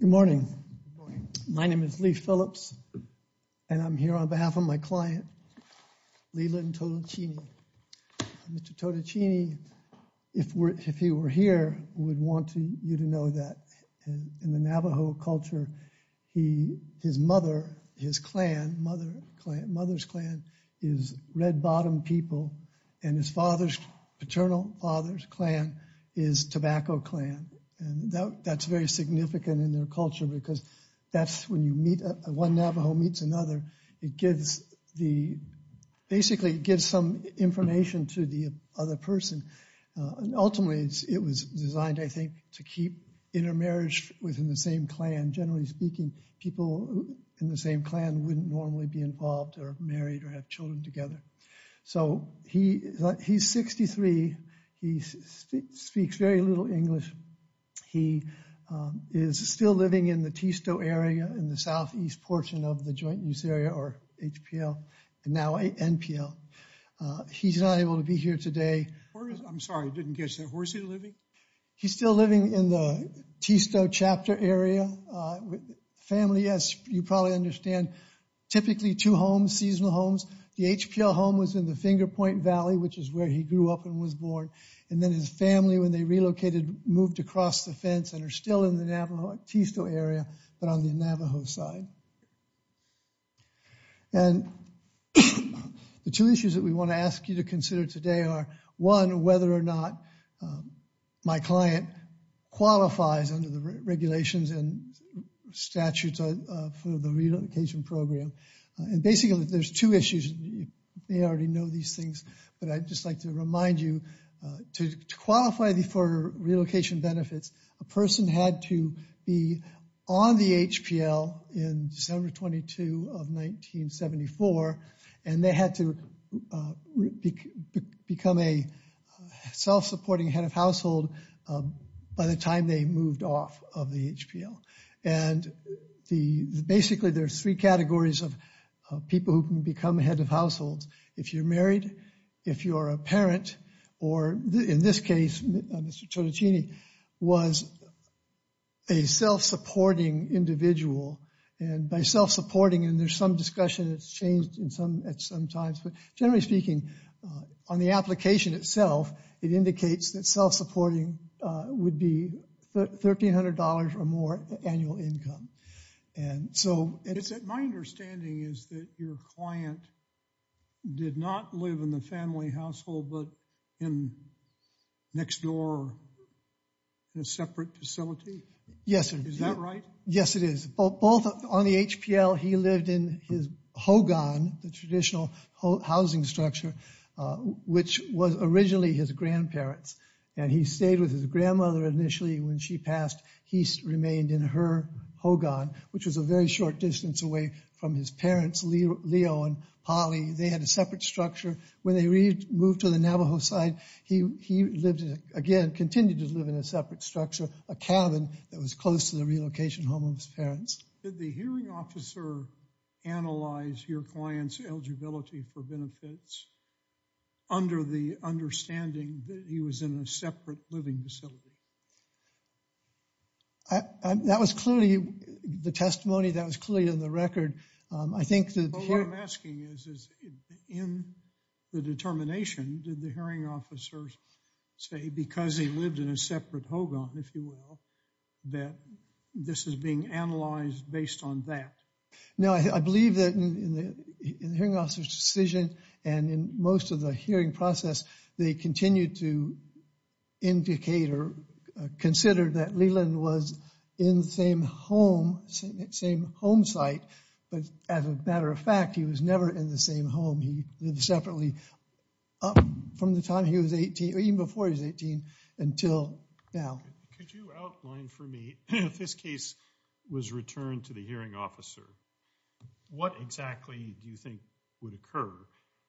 Good morning. My name is Lee Phillips and I'm here on behalf of my client, Leland Todicheeney. Mr. Todicheeney, if he were here, would want you to know that in the Navajo culture, his mother, his clan, mother's clan, is Red Bottom people and his father's, paternal father's clan, is Tobacco Clan. And that's very significant in their culture because that's when you meet, one Navajo meets another, it gives the, basically it gives some information to the other person. And ultimately, it was designed, I think, to keep intermarriage within the same clan. Generally speaking, people in the same clan wouldn't normally be involved or married or have children together. So he's 63. He speaks very little English. He is still living in the Tisto area in the southeast portion of the Joint Use Area, or HPL, and now NPL. He's not able to be here today. Where is, I'm sorry, I didn't catch that. Where is he living? He's still living in the Tisto chapter area. Family, as you probably understand, typically two homes, seasonal homes. The HPL home was in the Finger Point Valley, which is where he grew up and was born. And then his family, when they relocated, moved across the fence and are still in the Navajo, Tisto area, but on the Navajo side. And the two issues that we want to ask you to consider today are, one, whether or not my client qualifies under the regulations and statutes for the relocation program. And basically, there's two issues. You may already know these things, but I'd just like to remind you, to qualify for relocation benefits, a person had to be on the HPL in December 22 of 1974, and they had to become a self-supporting head of household by the time they moved off of the HPL. And basically, there are three categories of people who can become head of households. If you're married, if you're a parent, or in this case, Mr. Tonaccini was a self-supporting individual. And by self-supporting, and there's some discussion that's changed at some times, but generally speaking, on the application itself, it indicates that self-supporting would be $1,300 or more annual income. My understanding is that your client did not live in the family household, but in next door, in a separate facility? Yes, sir. Is that right? Yes, it is. Both on the HPL, he lived in his hogan, the traditional housing structure, which was originally his grandparents. And he stayed with his grandmother initially. When she passed, he remained in her hogan, which was a very short distance away from his parents, Leo and Polly. They had a separate structure. When they moved to the Navajo side, he lived in, again, continued to live in a separate structure, a cabin that was close to the relocation home of his parents. Did the hearing officer analyze your client's eligibility for benefits under the understanding that he was in a separate living facility? That was clearly the testimony that was clearly in the record. What I'm asking is, in the determination, did the hearing officers say, because he lived in a separate hogan, if you will, that this is being analyzed based on that? No, I believe that in the hearing officer's decision and in most of the hearing process, they continued to indicate or consider that Leland was in the same home, same home site. But as a matter of fact, he was never in the same home. He lived separately from the time he was 18, or even before he was 18, until now. Could you outline for me, if this case was returned to the hearing officer, what exactly do you think would occur?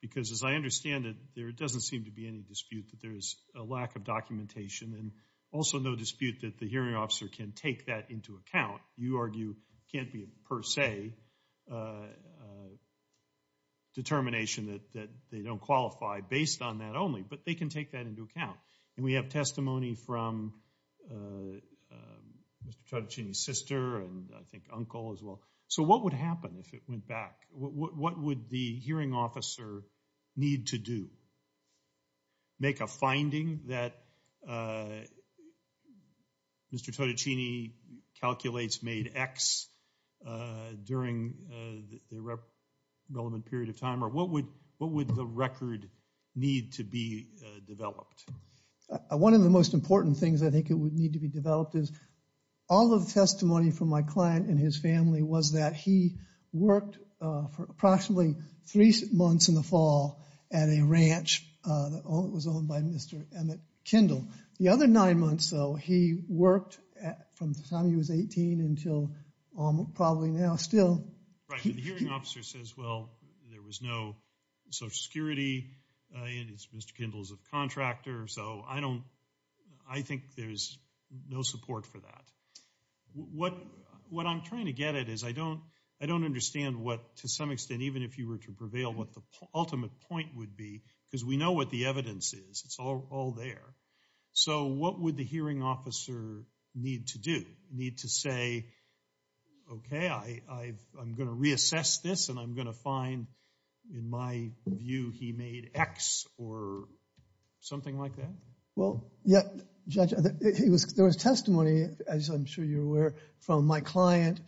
Because as I understand it, there doesn't seem to be any dispute that there is a lack of documentation, and also no dispute that the hearing officer can take that into account. You argue it can't be a per se determination that they don't qualify based on that only, but they can take that into account. And we have testimony from Mr. Totticini's sister, and I think uncle as well. So what would happen if it went back? What would the hearing officer need to do? Make a finding that Mr. Totticini calculates made X during the relevant period of time, or what would the record need to be developed? One of the most important things I think would need to be developed is all of the testimony from my client and his family was that he worked for approximately three months in the fall at a ranch that was owned by Mr. Emmett Kindle. The other nine months, though, he worked from the time he was 18 until probably now still. Right, but the hearing officer says, well, there was no Social Security, and Mr. Kindle's a contractor, so I think there's no support for that. What I'm trying to get at is I don't understand what, to some extent, even if you were to prevail, what the ultimate point would be, because we know what the evidence is. It's all there. So what would the hearing officer need to do? Need to say, okay, I'm going to reassess this, and I'm going to find, in my view, he made X or something like that? Well, yeah, Judge, there was testimony, as I'm sure you're aware, from my client,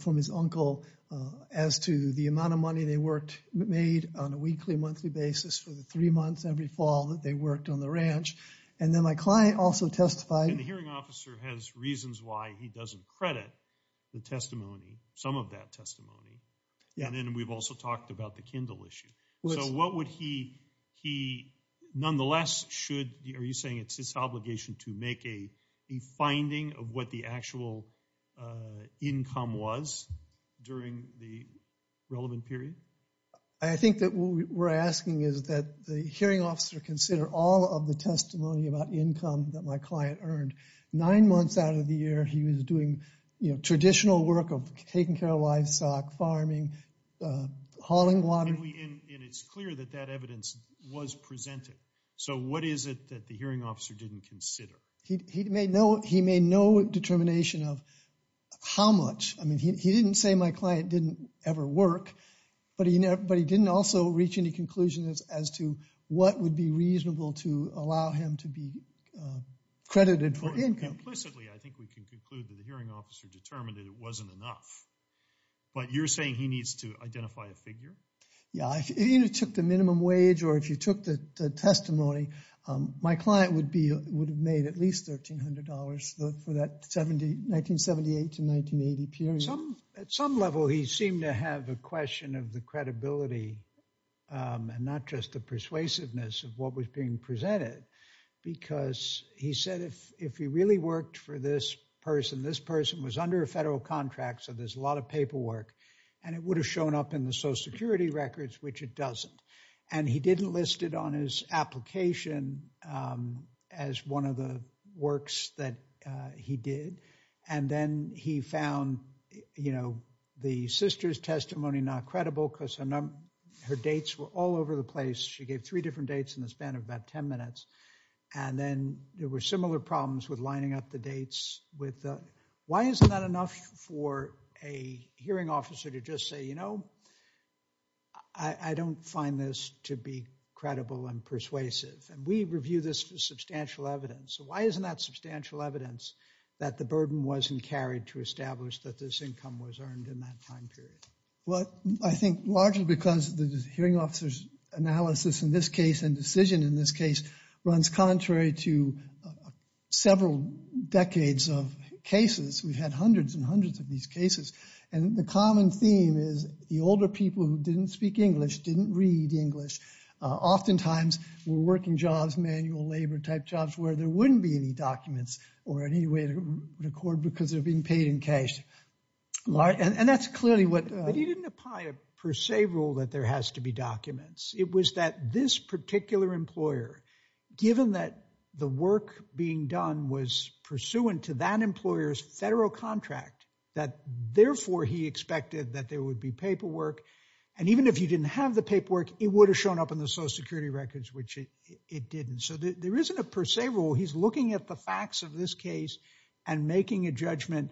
from his uncle, as to the amount of money they made on a weekly, monthly basis for the three months every fall that they worked on the ranch. And then my client also testified— And the hearing officer has reasons why he doesn't credit the testimony, some of that we've also talked about the Kindle issue. So what would he, nonetheless, should—are you saying it's his obligation to make a finding of what the actual income was during the relevant period? I think that what we're asking is that the hearing officer consider all of the testimony about income that my client earned. Nine months out of the year, he was doing traditional work of taking care of livestock, farming, hauling water. And it's clear that that evidence was presented. So what is it that the hearing officer didn't consider? He made no determination of how much. I mean, he didn't say my client didn't ever work, but he didn't also reach any conclusion as to what would be reasonable to allow him to be credited for income. Implicitly, I think we can conclude that the hearing officer determined that it wasn't enough. But you're saying he needs to identify a figure? Yeah, if you took the minimum wage or if you took the testimony, my client would have made at least $1,300 for that 1978 to 1980 period. At some level, he seemed to have a question of the credibility and not just the persuasiveness of what was being presented. Because he said if he really worked for this person, this person was under a federal contract, so there's a lot of paperwork. And it would have shown up in the social security records, which it doesn't. And he didn't list it on his application as one of the works that he did. And then he found the sister's testimony not credible because her dates were all over the place. She gave three different dates in the span of about 10 minutes. And then there were similar problems with lining up the dates. Why isn't that enough for a hearing officer to just say, you know, I don't find this to be credible and persuasive? And we review this for substantial evidence. Why isn't that substantial evidence that the burden wasn't carried to establish that this income was earned in that time period? Well, I think largely because the hearing officer's analysis in this case and decision in this case runs contrary to several decades of cases. We've had hundreds and hundreds of these cases. And the common theme is the older people who didn't speak English didn't read English. Oftentimes, we're working jobs, manual labor type jobs where there wouldn't be any documents or any way to record because they're being paid in cash. And that's clearly what... that there has to be documents. It was that this particular employer, given that the work being done was pursuant to that employer's federal contract, that therefore he expected that there would be paperwork. And even if you didn't have the paperwork, it would have shown up in the Social Security records, which it didn't. So there isn't a per se rule. He's looking at the facts of this case and making a judgment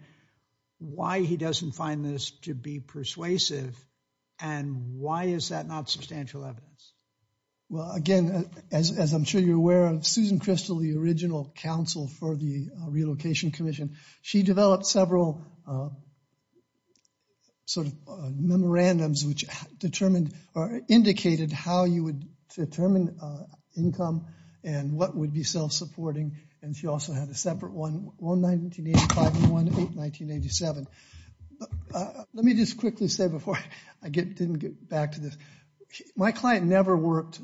why he doesn't find this to be persuasive. And why is that not substantial evidence? Well, again, as I'm sure you're aware of, Susan Crystal, the original counsel for the Relocation Commission, she developed several sort of memorandums which determined or indicated how you would determine income and what would be self-supporting. And she also had a separate one, 1985 and one in 1987. But let me just quickly say before I didn't get back to this. My client never worked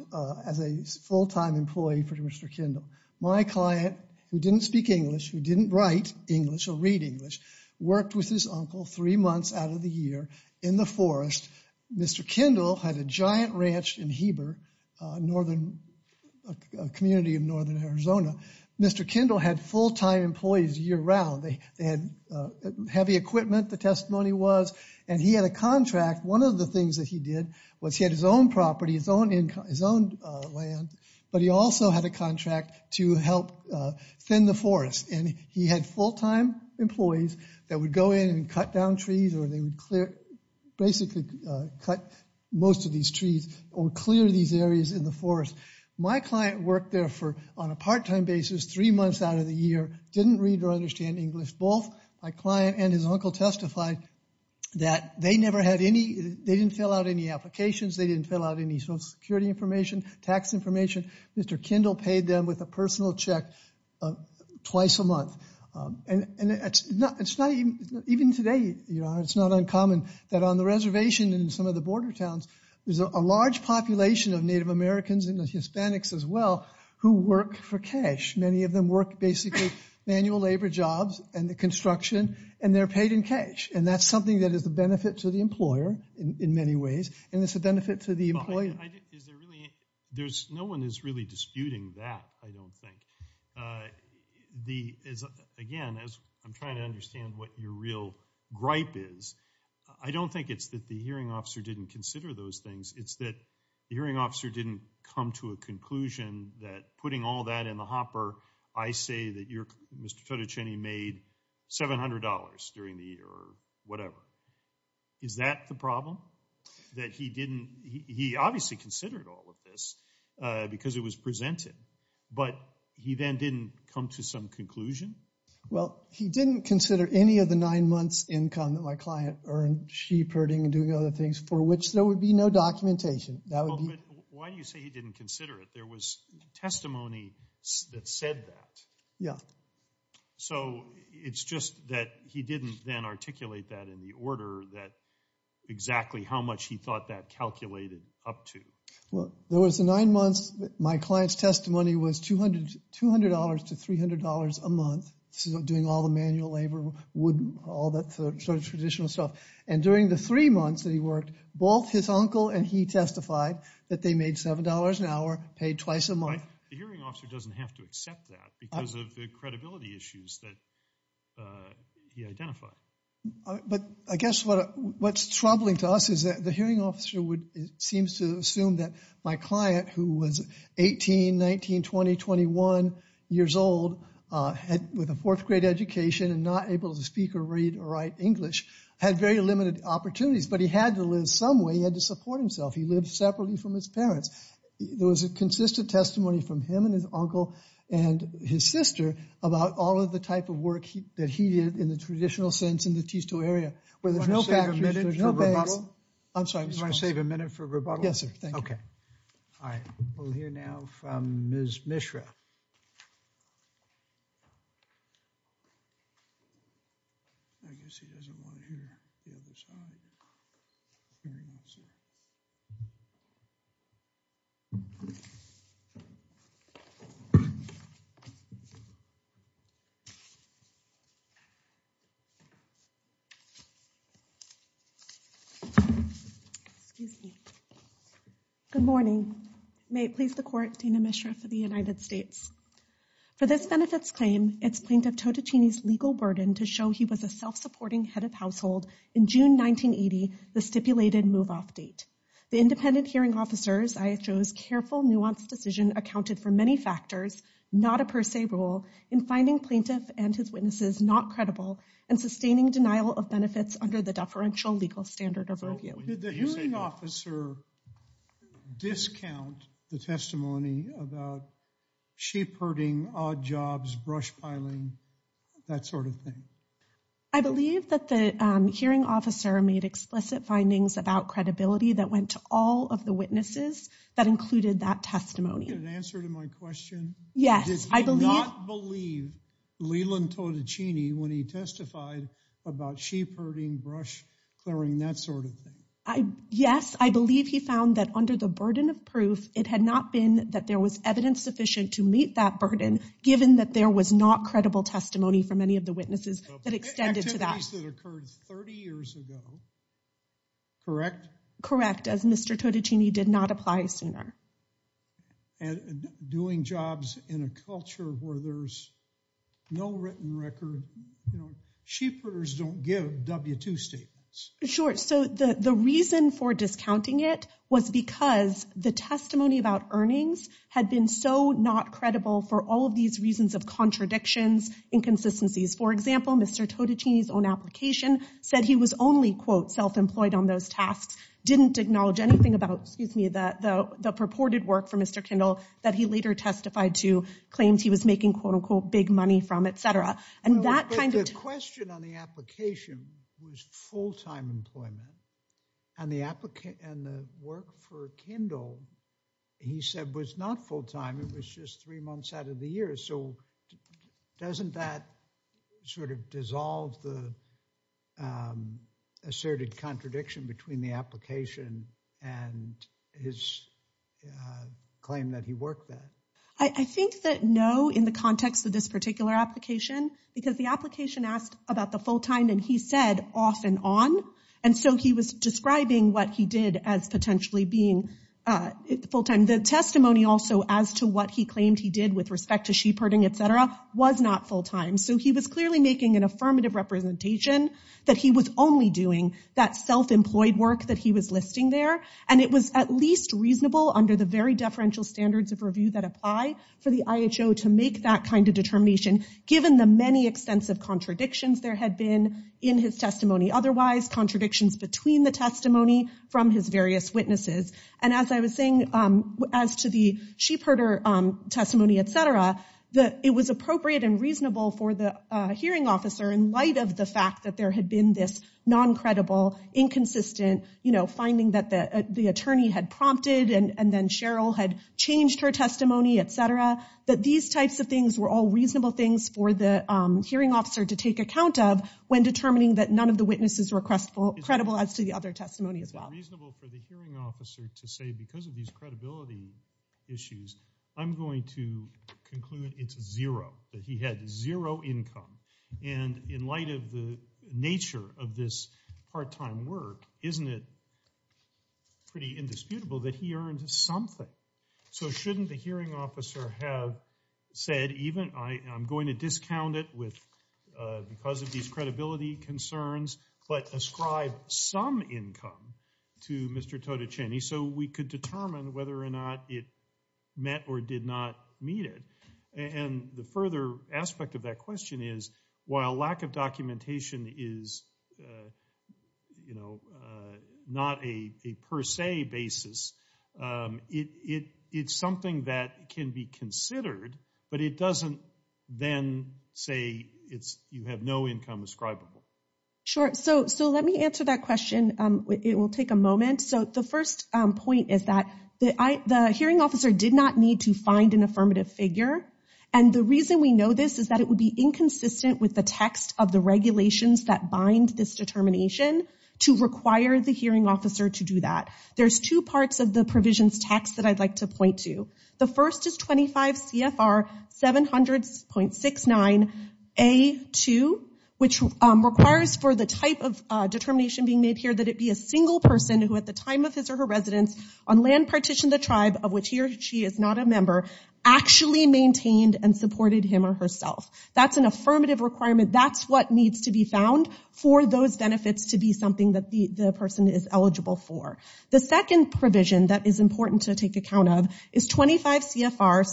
as a full-time employee for Mr. Kindle. My client, who didn't speak English, who didn't write English or read English, worked with his uncle three months out of the year in the forest. Mr. Kindle had a giant ranch in Heber, a community in northern Arizona. Mr. Kindle had full-time employees year-round. They had heavy equipment, the testimony was. And he had a contract. One of the things that he did was he had his own property, his own land, but he also had a contract to help thin the forest. And he had full-time employees that would go in and cut down trees or they would basically cut most of these trees or clear these areas in the forest. My client worked there for, on a part-time basis, three months out of the year, didn't read or understand English. Both my client and his uncle testified that they never had any, they didn't fill out any applications, they didn't fill out any social security information, tax information. Mr. Kindle paid them with a personal check twice a month. And it's not, it's not even, even today, you know, it's not uncommon that on the reservation and in some of the border towns, there's a large population of Native Americans and Hispanics as well, who work for cash. Many of them work basically manual labor jobs and the construction and they're paid in cash. And that's something that is a benefit to the employer, in many ways, and it's a benefit to the employee. There's, no one is really disputing that, I don't think. Again, as I'm trying to understand what your real gripe is, I don't think it's that the hearing officer didn't consider those things. It's that the hearing officer didn't come to a conclusion that putting all that in the hopper, I say that you're, Mr. Totoceni made $700 during the year or whatever. Is that the problem? That he didn't, he obviously considered all of this because it was presented, but he then didn't come to some conclusion? Well, he didn't consider any of the nine months income that my client earned sheep herding and doing other things for which there would be no documentation. Why do you say he didn't consider it? There was testimony that said that. Yeah. So, it's just that he didn't then articulate that in the order that exactly how much he thought that calculated up to. Well, there was the nine months that my client's testimony was $200 to $300 a month. Doing all the manual labor, wood, all that sort of traditional stuff. And during the three months that he worked, both his uncle and he testified that they made $7 an hour, paid twice a month. The hearing officer doesn't have to accept that because of the credibility issues that he identified. But I guess what's troubling to us is that the hearing officer seems to assume that my client, who was 18, 19, 20, 21 years old, had with a fourth grade education and not able to speak or read or write English, had very limited opportunities, but he had to live some way. He had to support himself. He lived separately from his parents. There was a consistent testimony from him and his uncle and his sister about all of the type of work that he did in the traditional sense in the T2 area. I'm sorry. You want to save a minute for rebuttal? Yes, sir. Thank you. Okay. All right. We'll hear now from Ms. Mishra. I guess he doesn't want to hear the other side. Excuse me. Good morning. May it please the court, Dana Mishra for the United States. For this benefits claim, it's Plaintiff Totacini's legal burden to show he was a self-supporting head of household in June 1980, the stipulated move-off date. The independent hearing officer's IHO's careful, nuanced decision accounted for many factors, not a per se rule, in finding plaintiff and his witnesses not credible and sustaining denial of benefits under the deferential legal standard of review. Did the hearing officer discount the testimony about sheep herding, odd jobs, brush piling, that sort of thing? I believe that the hearing officer made explicit findings about credibility that went to all of the witnesses that included that Leland Totacini when he testified about sheep herding, brush clearing, that sort of thing. Yes, I believe he found that under the burden of proof, it had not been that there was evidence sufficient to meet that burden given that there was not credible testimony from any of the witnesses that extended to that. Activities that occurred 30 years ago, correct? Correct, as Mr. Totacini did not apply sooner. And doing jobs in a culture where there's no written record, sheep herders don't give W-2 statements. Sure, so the reason for discounting it was because the testimony about earnings had been so not credible for all of these reasons of contradictions, inconsistencies. For example, Mr. Totacini's own application said he was only quote self-employed on those tasks, didn't acknowledge anything about, excuse me, the purported work for Mr. Kindle that he later testified to claims he was making quote-unquote big money from, etc. And that kind of question on the application was full-time employment and the work for Kindle, he said, was not full-time. It was just three months out of the year. So doesn't that sort of dissolve the asserted contradiction between the application and his claim that he worked that? I think that no, in the context of this particular application, because the application asked about the full-time and he said off and on. And so he was describing what he did as potentially being full-time. The testimony also as to what he claimed he did with respect to sheep herding, etc., was not full-time. So he was clearly making an affirmative representation that he was only doing that self-employed work that he was listing there. And it was at least reasonable under the very deferential standards of review that apply for the IHO to make that kind of determination given the many extensive contradictions there had been in his testimony. Otherwise, contradictions between the testimony from his various witnesses. And as I was saying, as to the sheep herder testimony, etc., that it was appropriate and reasonable for the hearing officer in light of the fact that there had been this non-credible, inconsistent finding that the attorney had prompted and then Cheryl had changed her testimony, etc., that these types of things were all reasonable things for the hearing officer to take account of when determining that none of the witnesses were credible as to the other testimony as well. Is it reasonable for the hearing officer to say because of these credibility issues, I'm going to conclude it's zero, that he had zero income? And in light of the nature of this part-time work, isn't it pretty indisputable that he earned something? So shouldn't the hearing officer have said even I'm going to discount it with because of these credibility concerns, but ascribe some income to Mr. Totticini so we could determine whether or not it met or did not meet it? And the further aspect of that question is while lack of documentation is, you know, not a per se basis, it's something that can be considered, but it doesn't then say you have no income ascribable. Sure, so let me answer that question. It will take a moment. So the first point is that the hearing officer did not need to find an affirmative figure, and the reason we know this is that it would be inconsistent with the text of the regulations that bind this determination to require the hearing officer to do that. There's two parts of the provisions text that I'd like to for the type of determination being made here that it be a single person who at the time of his or her residence on land partition the tribe of which he or she is not a member actually maintained and supported him or herself. That's an affirmative requirement. That's what needs to be found for those benefits to be something that the person is eligible for. The second provision that is important to take account of is 25 CFR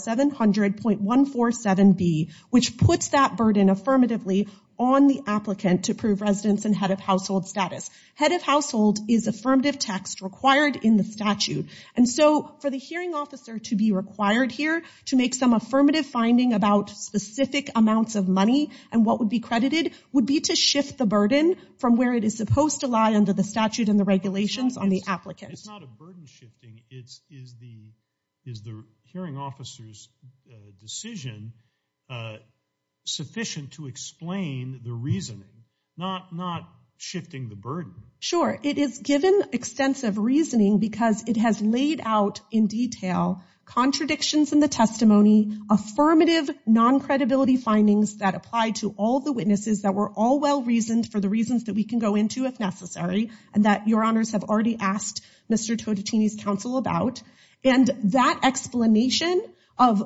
700.147B, which puts that burden affirmatively on the applicant to prove residence and head of household status. Head of household is affirmative text required in the statute, and so for the hearing officer to be required here to make some affirmative finding about specific amounts of money and what would be credited would be to shift the burden from where it is supposed to lie under the statute and the regulations on the applicant. It's not a burden shifting. Is the hearing officer's decision sufficient to explain the reasoning, not shifting the burden? Sure. It is given extensive reasoning because it has laid out in detail contradictions in the testimony, affirmative non-credibility findings that apply to all the witnesses that were all well-reasoned for the reasons that we can go into if necessary and that your honors have already asked Mr. Totatini's counsel about, and that explanation of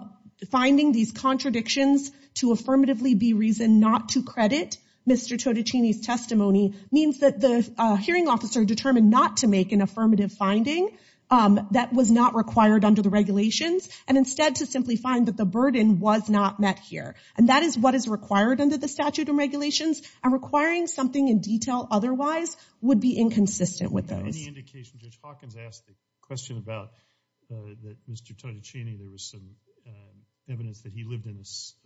finding these contradictions to affirmatively be reason not to credit Mr. Totatini's testimony means that the hearing officer determined not to make an affirmative finding that was not required under the regulations and instead to simply find that the burden was not met here, and that is what is required under the statute and regulations, and requiring something in detail otherwise would be inconsistent with those. Any indication, Judge Hawkins asked the question about that Mr. Totatini, there was some evidence that he lived in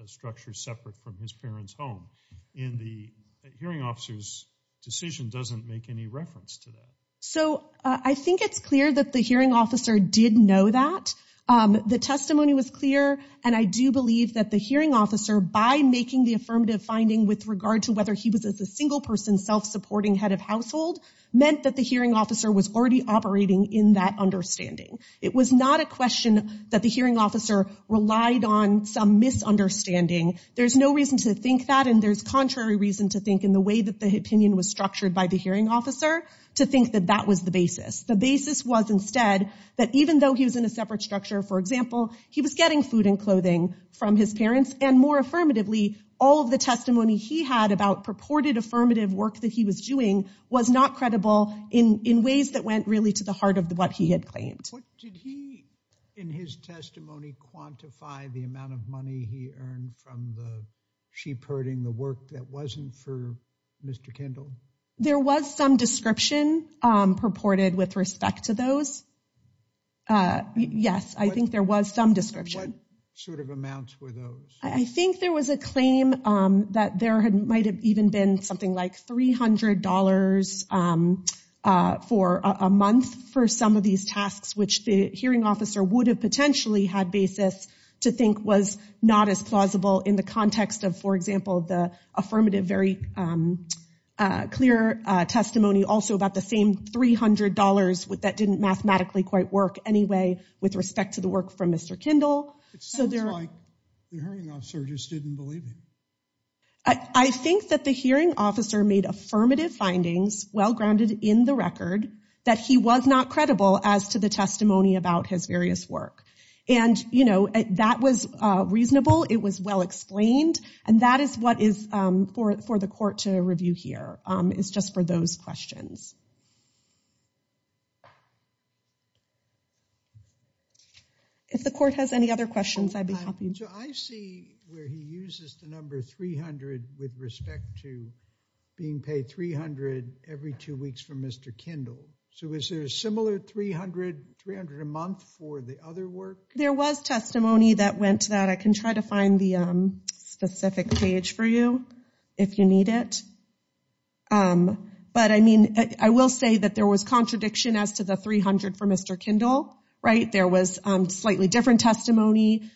a structure separate from his parents' home. In the hearing officer's decision doesn't make any reference to that. So I think it's clear that the hearing officer did know that. The testimony was clear and I do believe that the hearing officer by making the affirmative finding with regard to whether he was a single person self-supporting head of household meant that the hearing officer was already operating in that understanding. It was not a question that the hearing officer relied on some misunderstanding. There's no reason to think that and there's contrary reason to think in the way that the opinion was structured by the hearing officer to think that that was the basis. The basis was instead that even though he was in a separate structure, for example, he was getting food and affirmative work that he was doing was not credible in ways that went really to the heart of what he had claimed. Did he, in his testimony, quantify the amount of money he earned from the sheep herding, the work that wasn't for Mr. Kendall? There was some description purported with respect to those. Yes, I think there was some description. What sort of amounts were those? I think there was a claim that there had might have even been something like $300 for a month for some of these tasks which the hearing officer would have potentially had basis to think was not as plausible in the context of, for example, the affirmative very clear testimony also about the same $300 that didn't mathematically quite work anyway with respect to the work from surges didn't believe him. I think that the hearing officer made affirmative findings, well grounded in the record, that he was not credible as to the testimony about his various work. And, you know, that was reasonable. It was well explained. And that is what is for the court to review here. It's just for those questions. If the court has any other questions, I'd be happy. So I see where he uses the number 300 with respect to being paid $300 every two weeks for Mr. Kendall. So is there a similar $300, $300 a month for the other work? There was testimony that went to that. I can try to find the specific page for you if you need it. But, I mean, I don't know. I don't know. I don't know. I will say that there was contradiction as to the $300 for Mr. Kendall, right? There was slightly different testimony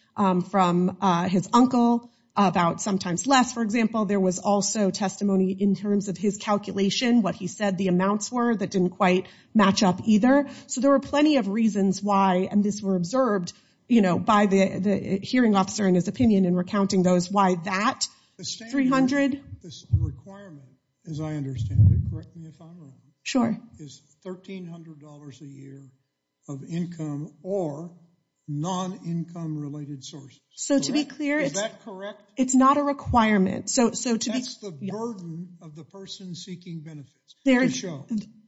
from his uncle about sometimes less, for example. There was also testimony in terms of his calculation, what he said the amounts were that didn't quite match up either. So there were plenty of reasons why, and this were observed, you know, by the hearing officer and his opinion in recounting those why that $300. This requirement, as I understand it, correct me if I'm wrong. Sure. Is $1,300 a year of income or non-income related sources. So to be clear. Is that correct? It's not a requirement. That's the burden of the person seeking benefits to show.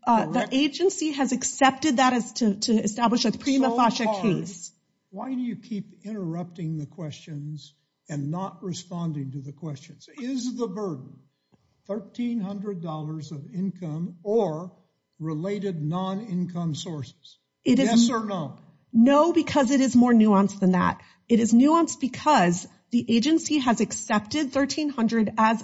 The agency has accepted that as to establish a prima facie case. Why do you keep interrupting the questions and not responding to the questions? Is the burden $1,300 of income or related non-income sources? Yes or no? No, because it is more nuanced than that. It is nuanced because the agency has accepted $1,300 as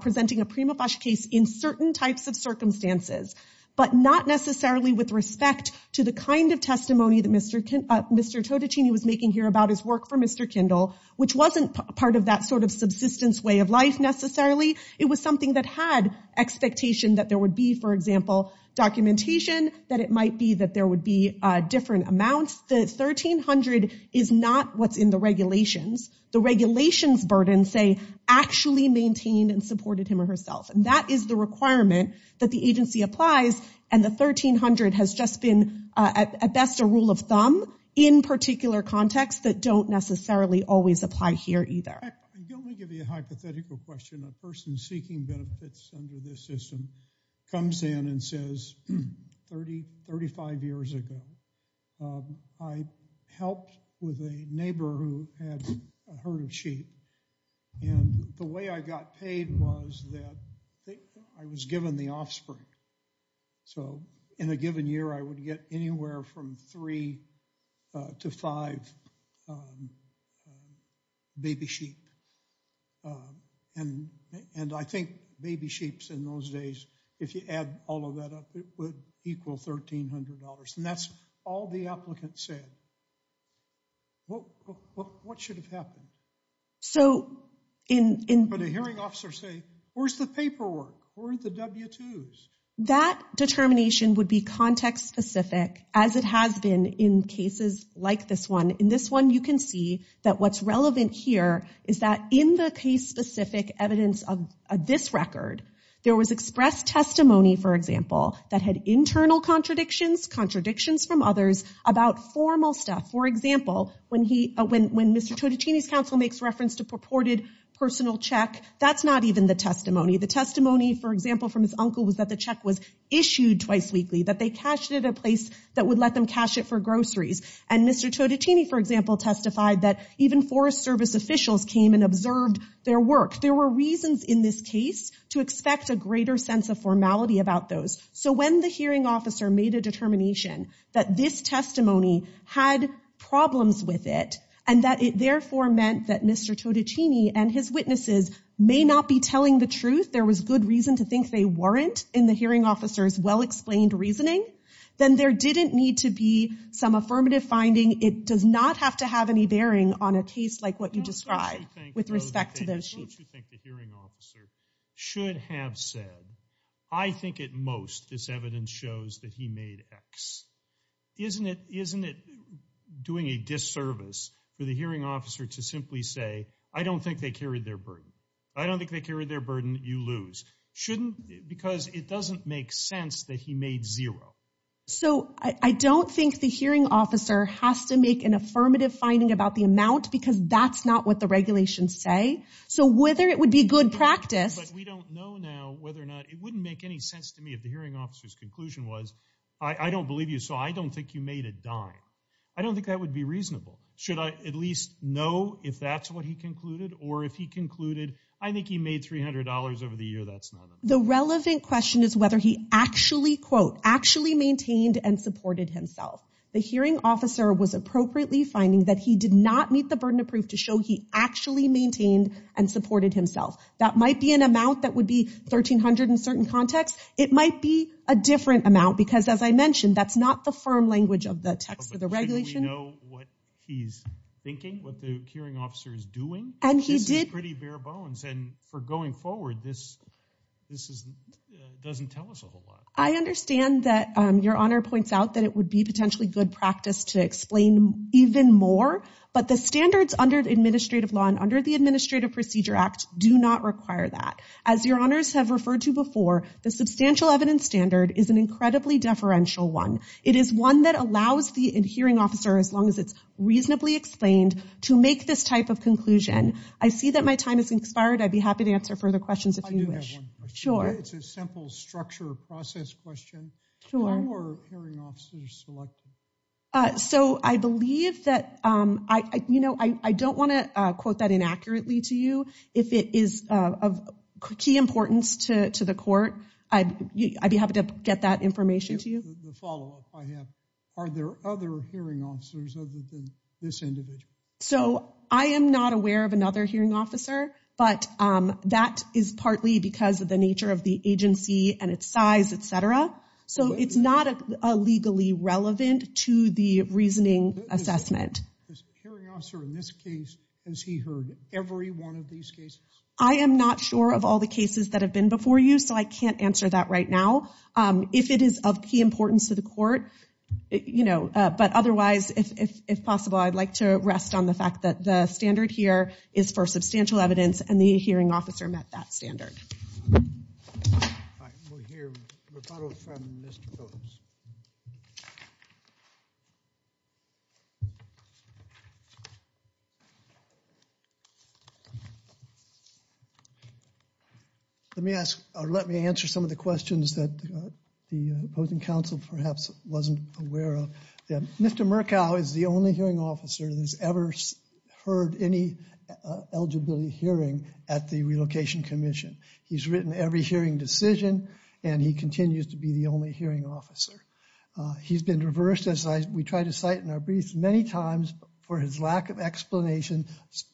presenting a prima facie case in certain types of circumstances, but not necessarily with respect to the kind of testimony that Mr. Todichini was making here about his work for Mr. Kendall, which wasn't part of that sort of subsistence way of life necessarily. It was something that had expectation that there would be, for example, documentation, that it might be that there would be different amounts. The $1,300 is not what's in the regulations. The regulations burden, say, actually maintained and supported him or herself. And that is the requirement that the agency applies. And the $1,300 has just been, at best, a rule of thumb in particular contexts that don't necessarily always apply here either. I'm going to give you a hypothetical question. A person seeking benefits under this system comes in and says, 30, 35 years ago, I helped with a neighbor who had a herd of sheep. And the way I got paid was that I was given the offspring. So in a given year, I would get anywhere from three to five baby sheep. And I think baby sheeps in those days, if you add all of that up, it would equal $1,300. And that's all the applicant said. What should have happened? But a hearing officer say, where's the paperwork? Where are the W-2s? That determination would be context-specific, as it has been in cases like this one. In this one, you can see that what's relevant here is that in the case-specific evidence of this record, there was expressed testimony, for example, that had internal contradictions, contradictions from others about formal stuff. For example, when Mr. Totticini's counsel makes reference to purported personal check, that's not even the testimony. The testimony, for example, from his uncle was that the check was issued twice weekly, that they cashed it at a place that would let them cash it for groceries. And Mr. Totticini, for example, testified that even Forest Service officials came and observed their work. There were reasons in this case to expect a greater sense of formality about those. So when the hearing officer made a determination that this testimony had problems with it, and that it therefore meant that Mr. Totticini and his witnesses may not be telling the truth, there was good reason to think they weren't in the hearing officer's well-explained reasoning, then there didn't need to be some affirmative finding. It does not have to have any bearing on a case like what you described with respect to those sheets. Don't you think the hearing officer should have said, I think at most this evidence shows that he made X? Isn't it doing a disservice for the hearing officer to simply say, I don't think they carried their burden. I don't think they carried their burden. You lose. Shouldn't, because it doesn't make sense that he made zero. So I don't think the hearing officer has to make an affirmative finding about the amount, because that's not what the regulations say. So whether it would be good practice. But we don't know now whether or not, it wouldn't make any sense to me if the hearing officer's conclusion was, I don't believe you, so I don't think you made a dime. I don't think that would be reasonable. Should I at least know if that's what he concluded? Or if he concluded, I think he made $300 over the year, that's not enough. The relevant question is whether he actually, quote, actually maintained and supported himself. The hearing officer was appropriately finding that he did not meet the burden of proof to show he actually maintained and supported himself. That might be an amount that would be $1,300 in certain contexts. It might be a different amount, because as I mentioned, that's not the firm language of the text of the regulation. Shouldn't we know what he's thinking? What the hearing officer is doing? This is pretty bare bones. And for going forward, this doesn't tell us a whole lot. I understand that Your Honor points out that it would be potentially good practice to explain even more. But the standards under administrative law and under the Administrative Procedure Act do not require that. As Your Honors have referred to before, the Substantial Evidence Standard is an incredibly deferential one. It is one that allows the hearing officer, as long as it's reasonably explained, to make this type of conclusion. I see that my time has expired. I'd be happy to answer further questions if you wish. I do have one question. Sure. It's a simple structure process question. How are hearing officers selected? So I believe that, you know, I don't want to quote that inaccurately to you. If it is of key importance to the court, I'd be happy to get that information to you. The follow-up I have, are there other hearing officers other than this individual? So I am not aware of another hearing officer, but that is partly because of the nature of the agency and its size, et cetera. So it's not legally relevant to the reasoning assessment. Hearing officer in this case, has he heard every one of these cases? I am not sure of all the cases that have been before you, so I can't answer that right now. If it is of key importance to the court, you know, but otherwise, if possible, I'd like to rest on the fact that the standard here is for Substantial Evidence, and the hearing officer met that standard. All right, we'll hear a rebuttal from Mr. Phillips. Let me ask, or let me answer some of the questions that the opposing counsel perhaps wasn't aware of. Mr. Murkow is the only hearing officer that has ever heard any eligibility hearing at the Relocation Commission. He's written every hearing decision, and he continues to be the only hearing officer. He's been reversed, as we try to cite in our briefs, many times for his lack of explanation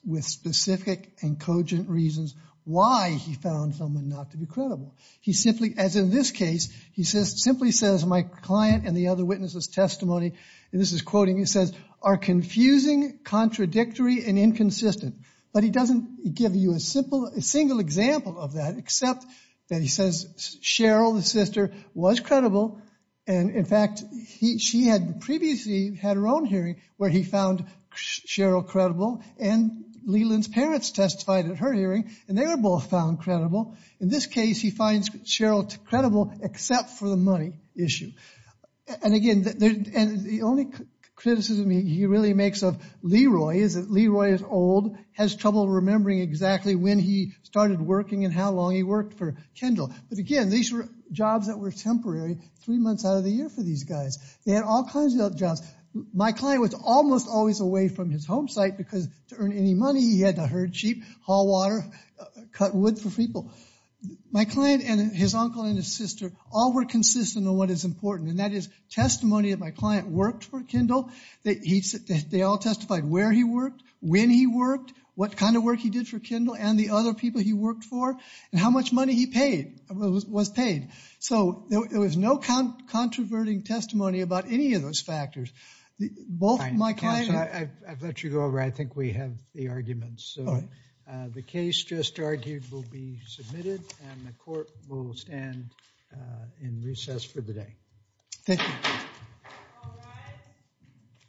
with specific and cogent reasons why he found someone not to be credible. He simply, as in this case, he simply says, my client and the other witnesses' testimony, and this is quoting, he says, are confusing, contradictory, and inconsistent. But he doesn't give you a single example of that, except that he says Cheryl, the sister, was credible, and in fact, she had previously had her own hearing where he found Cheryl credible, and Leland's parents testified at her hearing, and they were both found credible. In this case, he finds Cheryl credible, except for the money issue. And again, the only criticism he really makes of Leroy is that Leroy is old, has trouble remembering exactly when he started working and how long he worked for Kendall. But again, these were jobs that were temporary, three months out of the year for these guys. They had all kinds of jobs. My client was almost always away from his home site because to earn any money, he had to herd sheep, haul water, cut wood for people. My client and his uncle and his sister all were consistent on what is important, and that is, testimony of my client worked for Kendall, they all testified where he worked, when he worked, what kind of work he did for Kendall, and the other people he worked for, and how much money he paid, was paid. So there was no controverting testimony about any of those factors. Both my client and- I think we have the arguments. The case just argued will be submitted, and the court will stand in recess for the day. Thank you.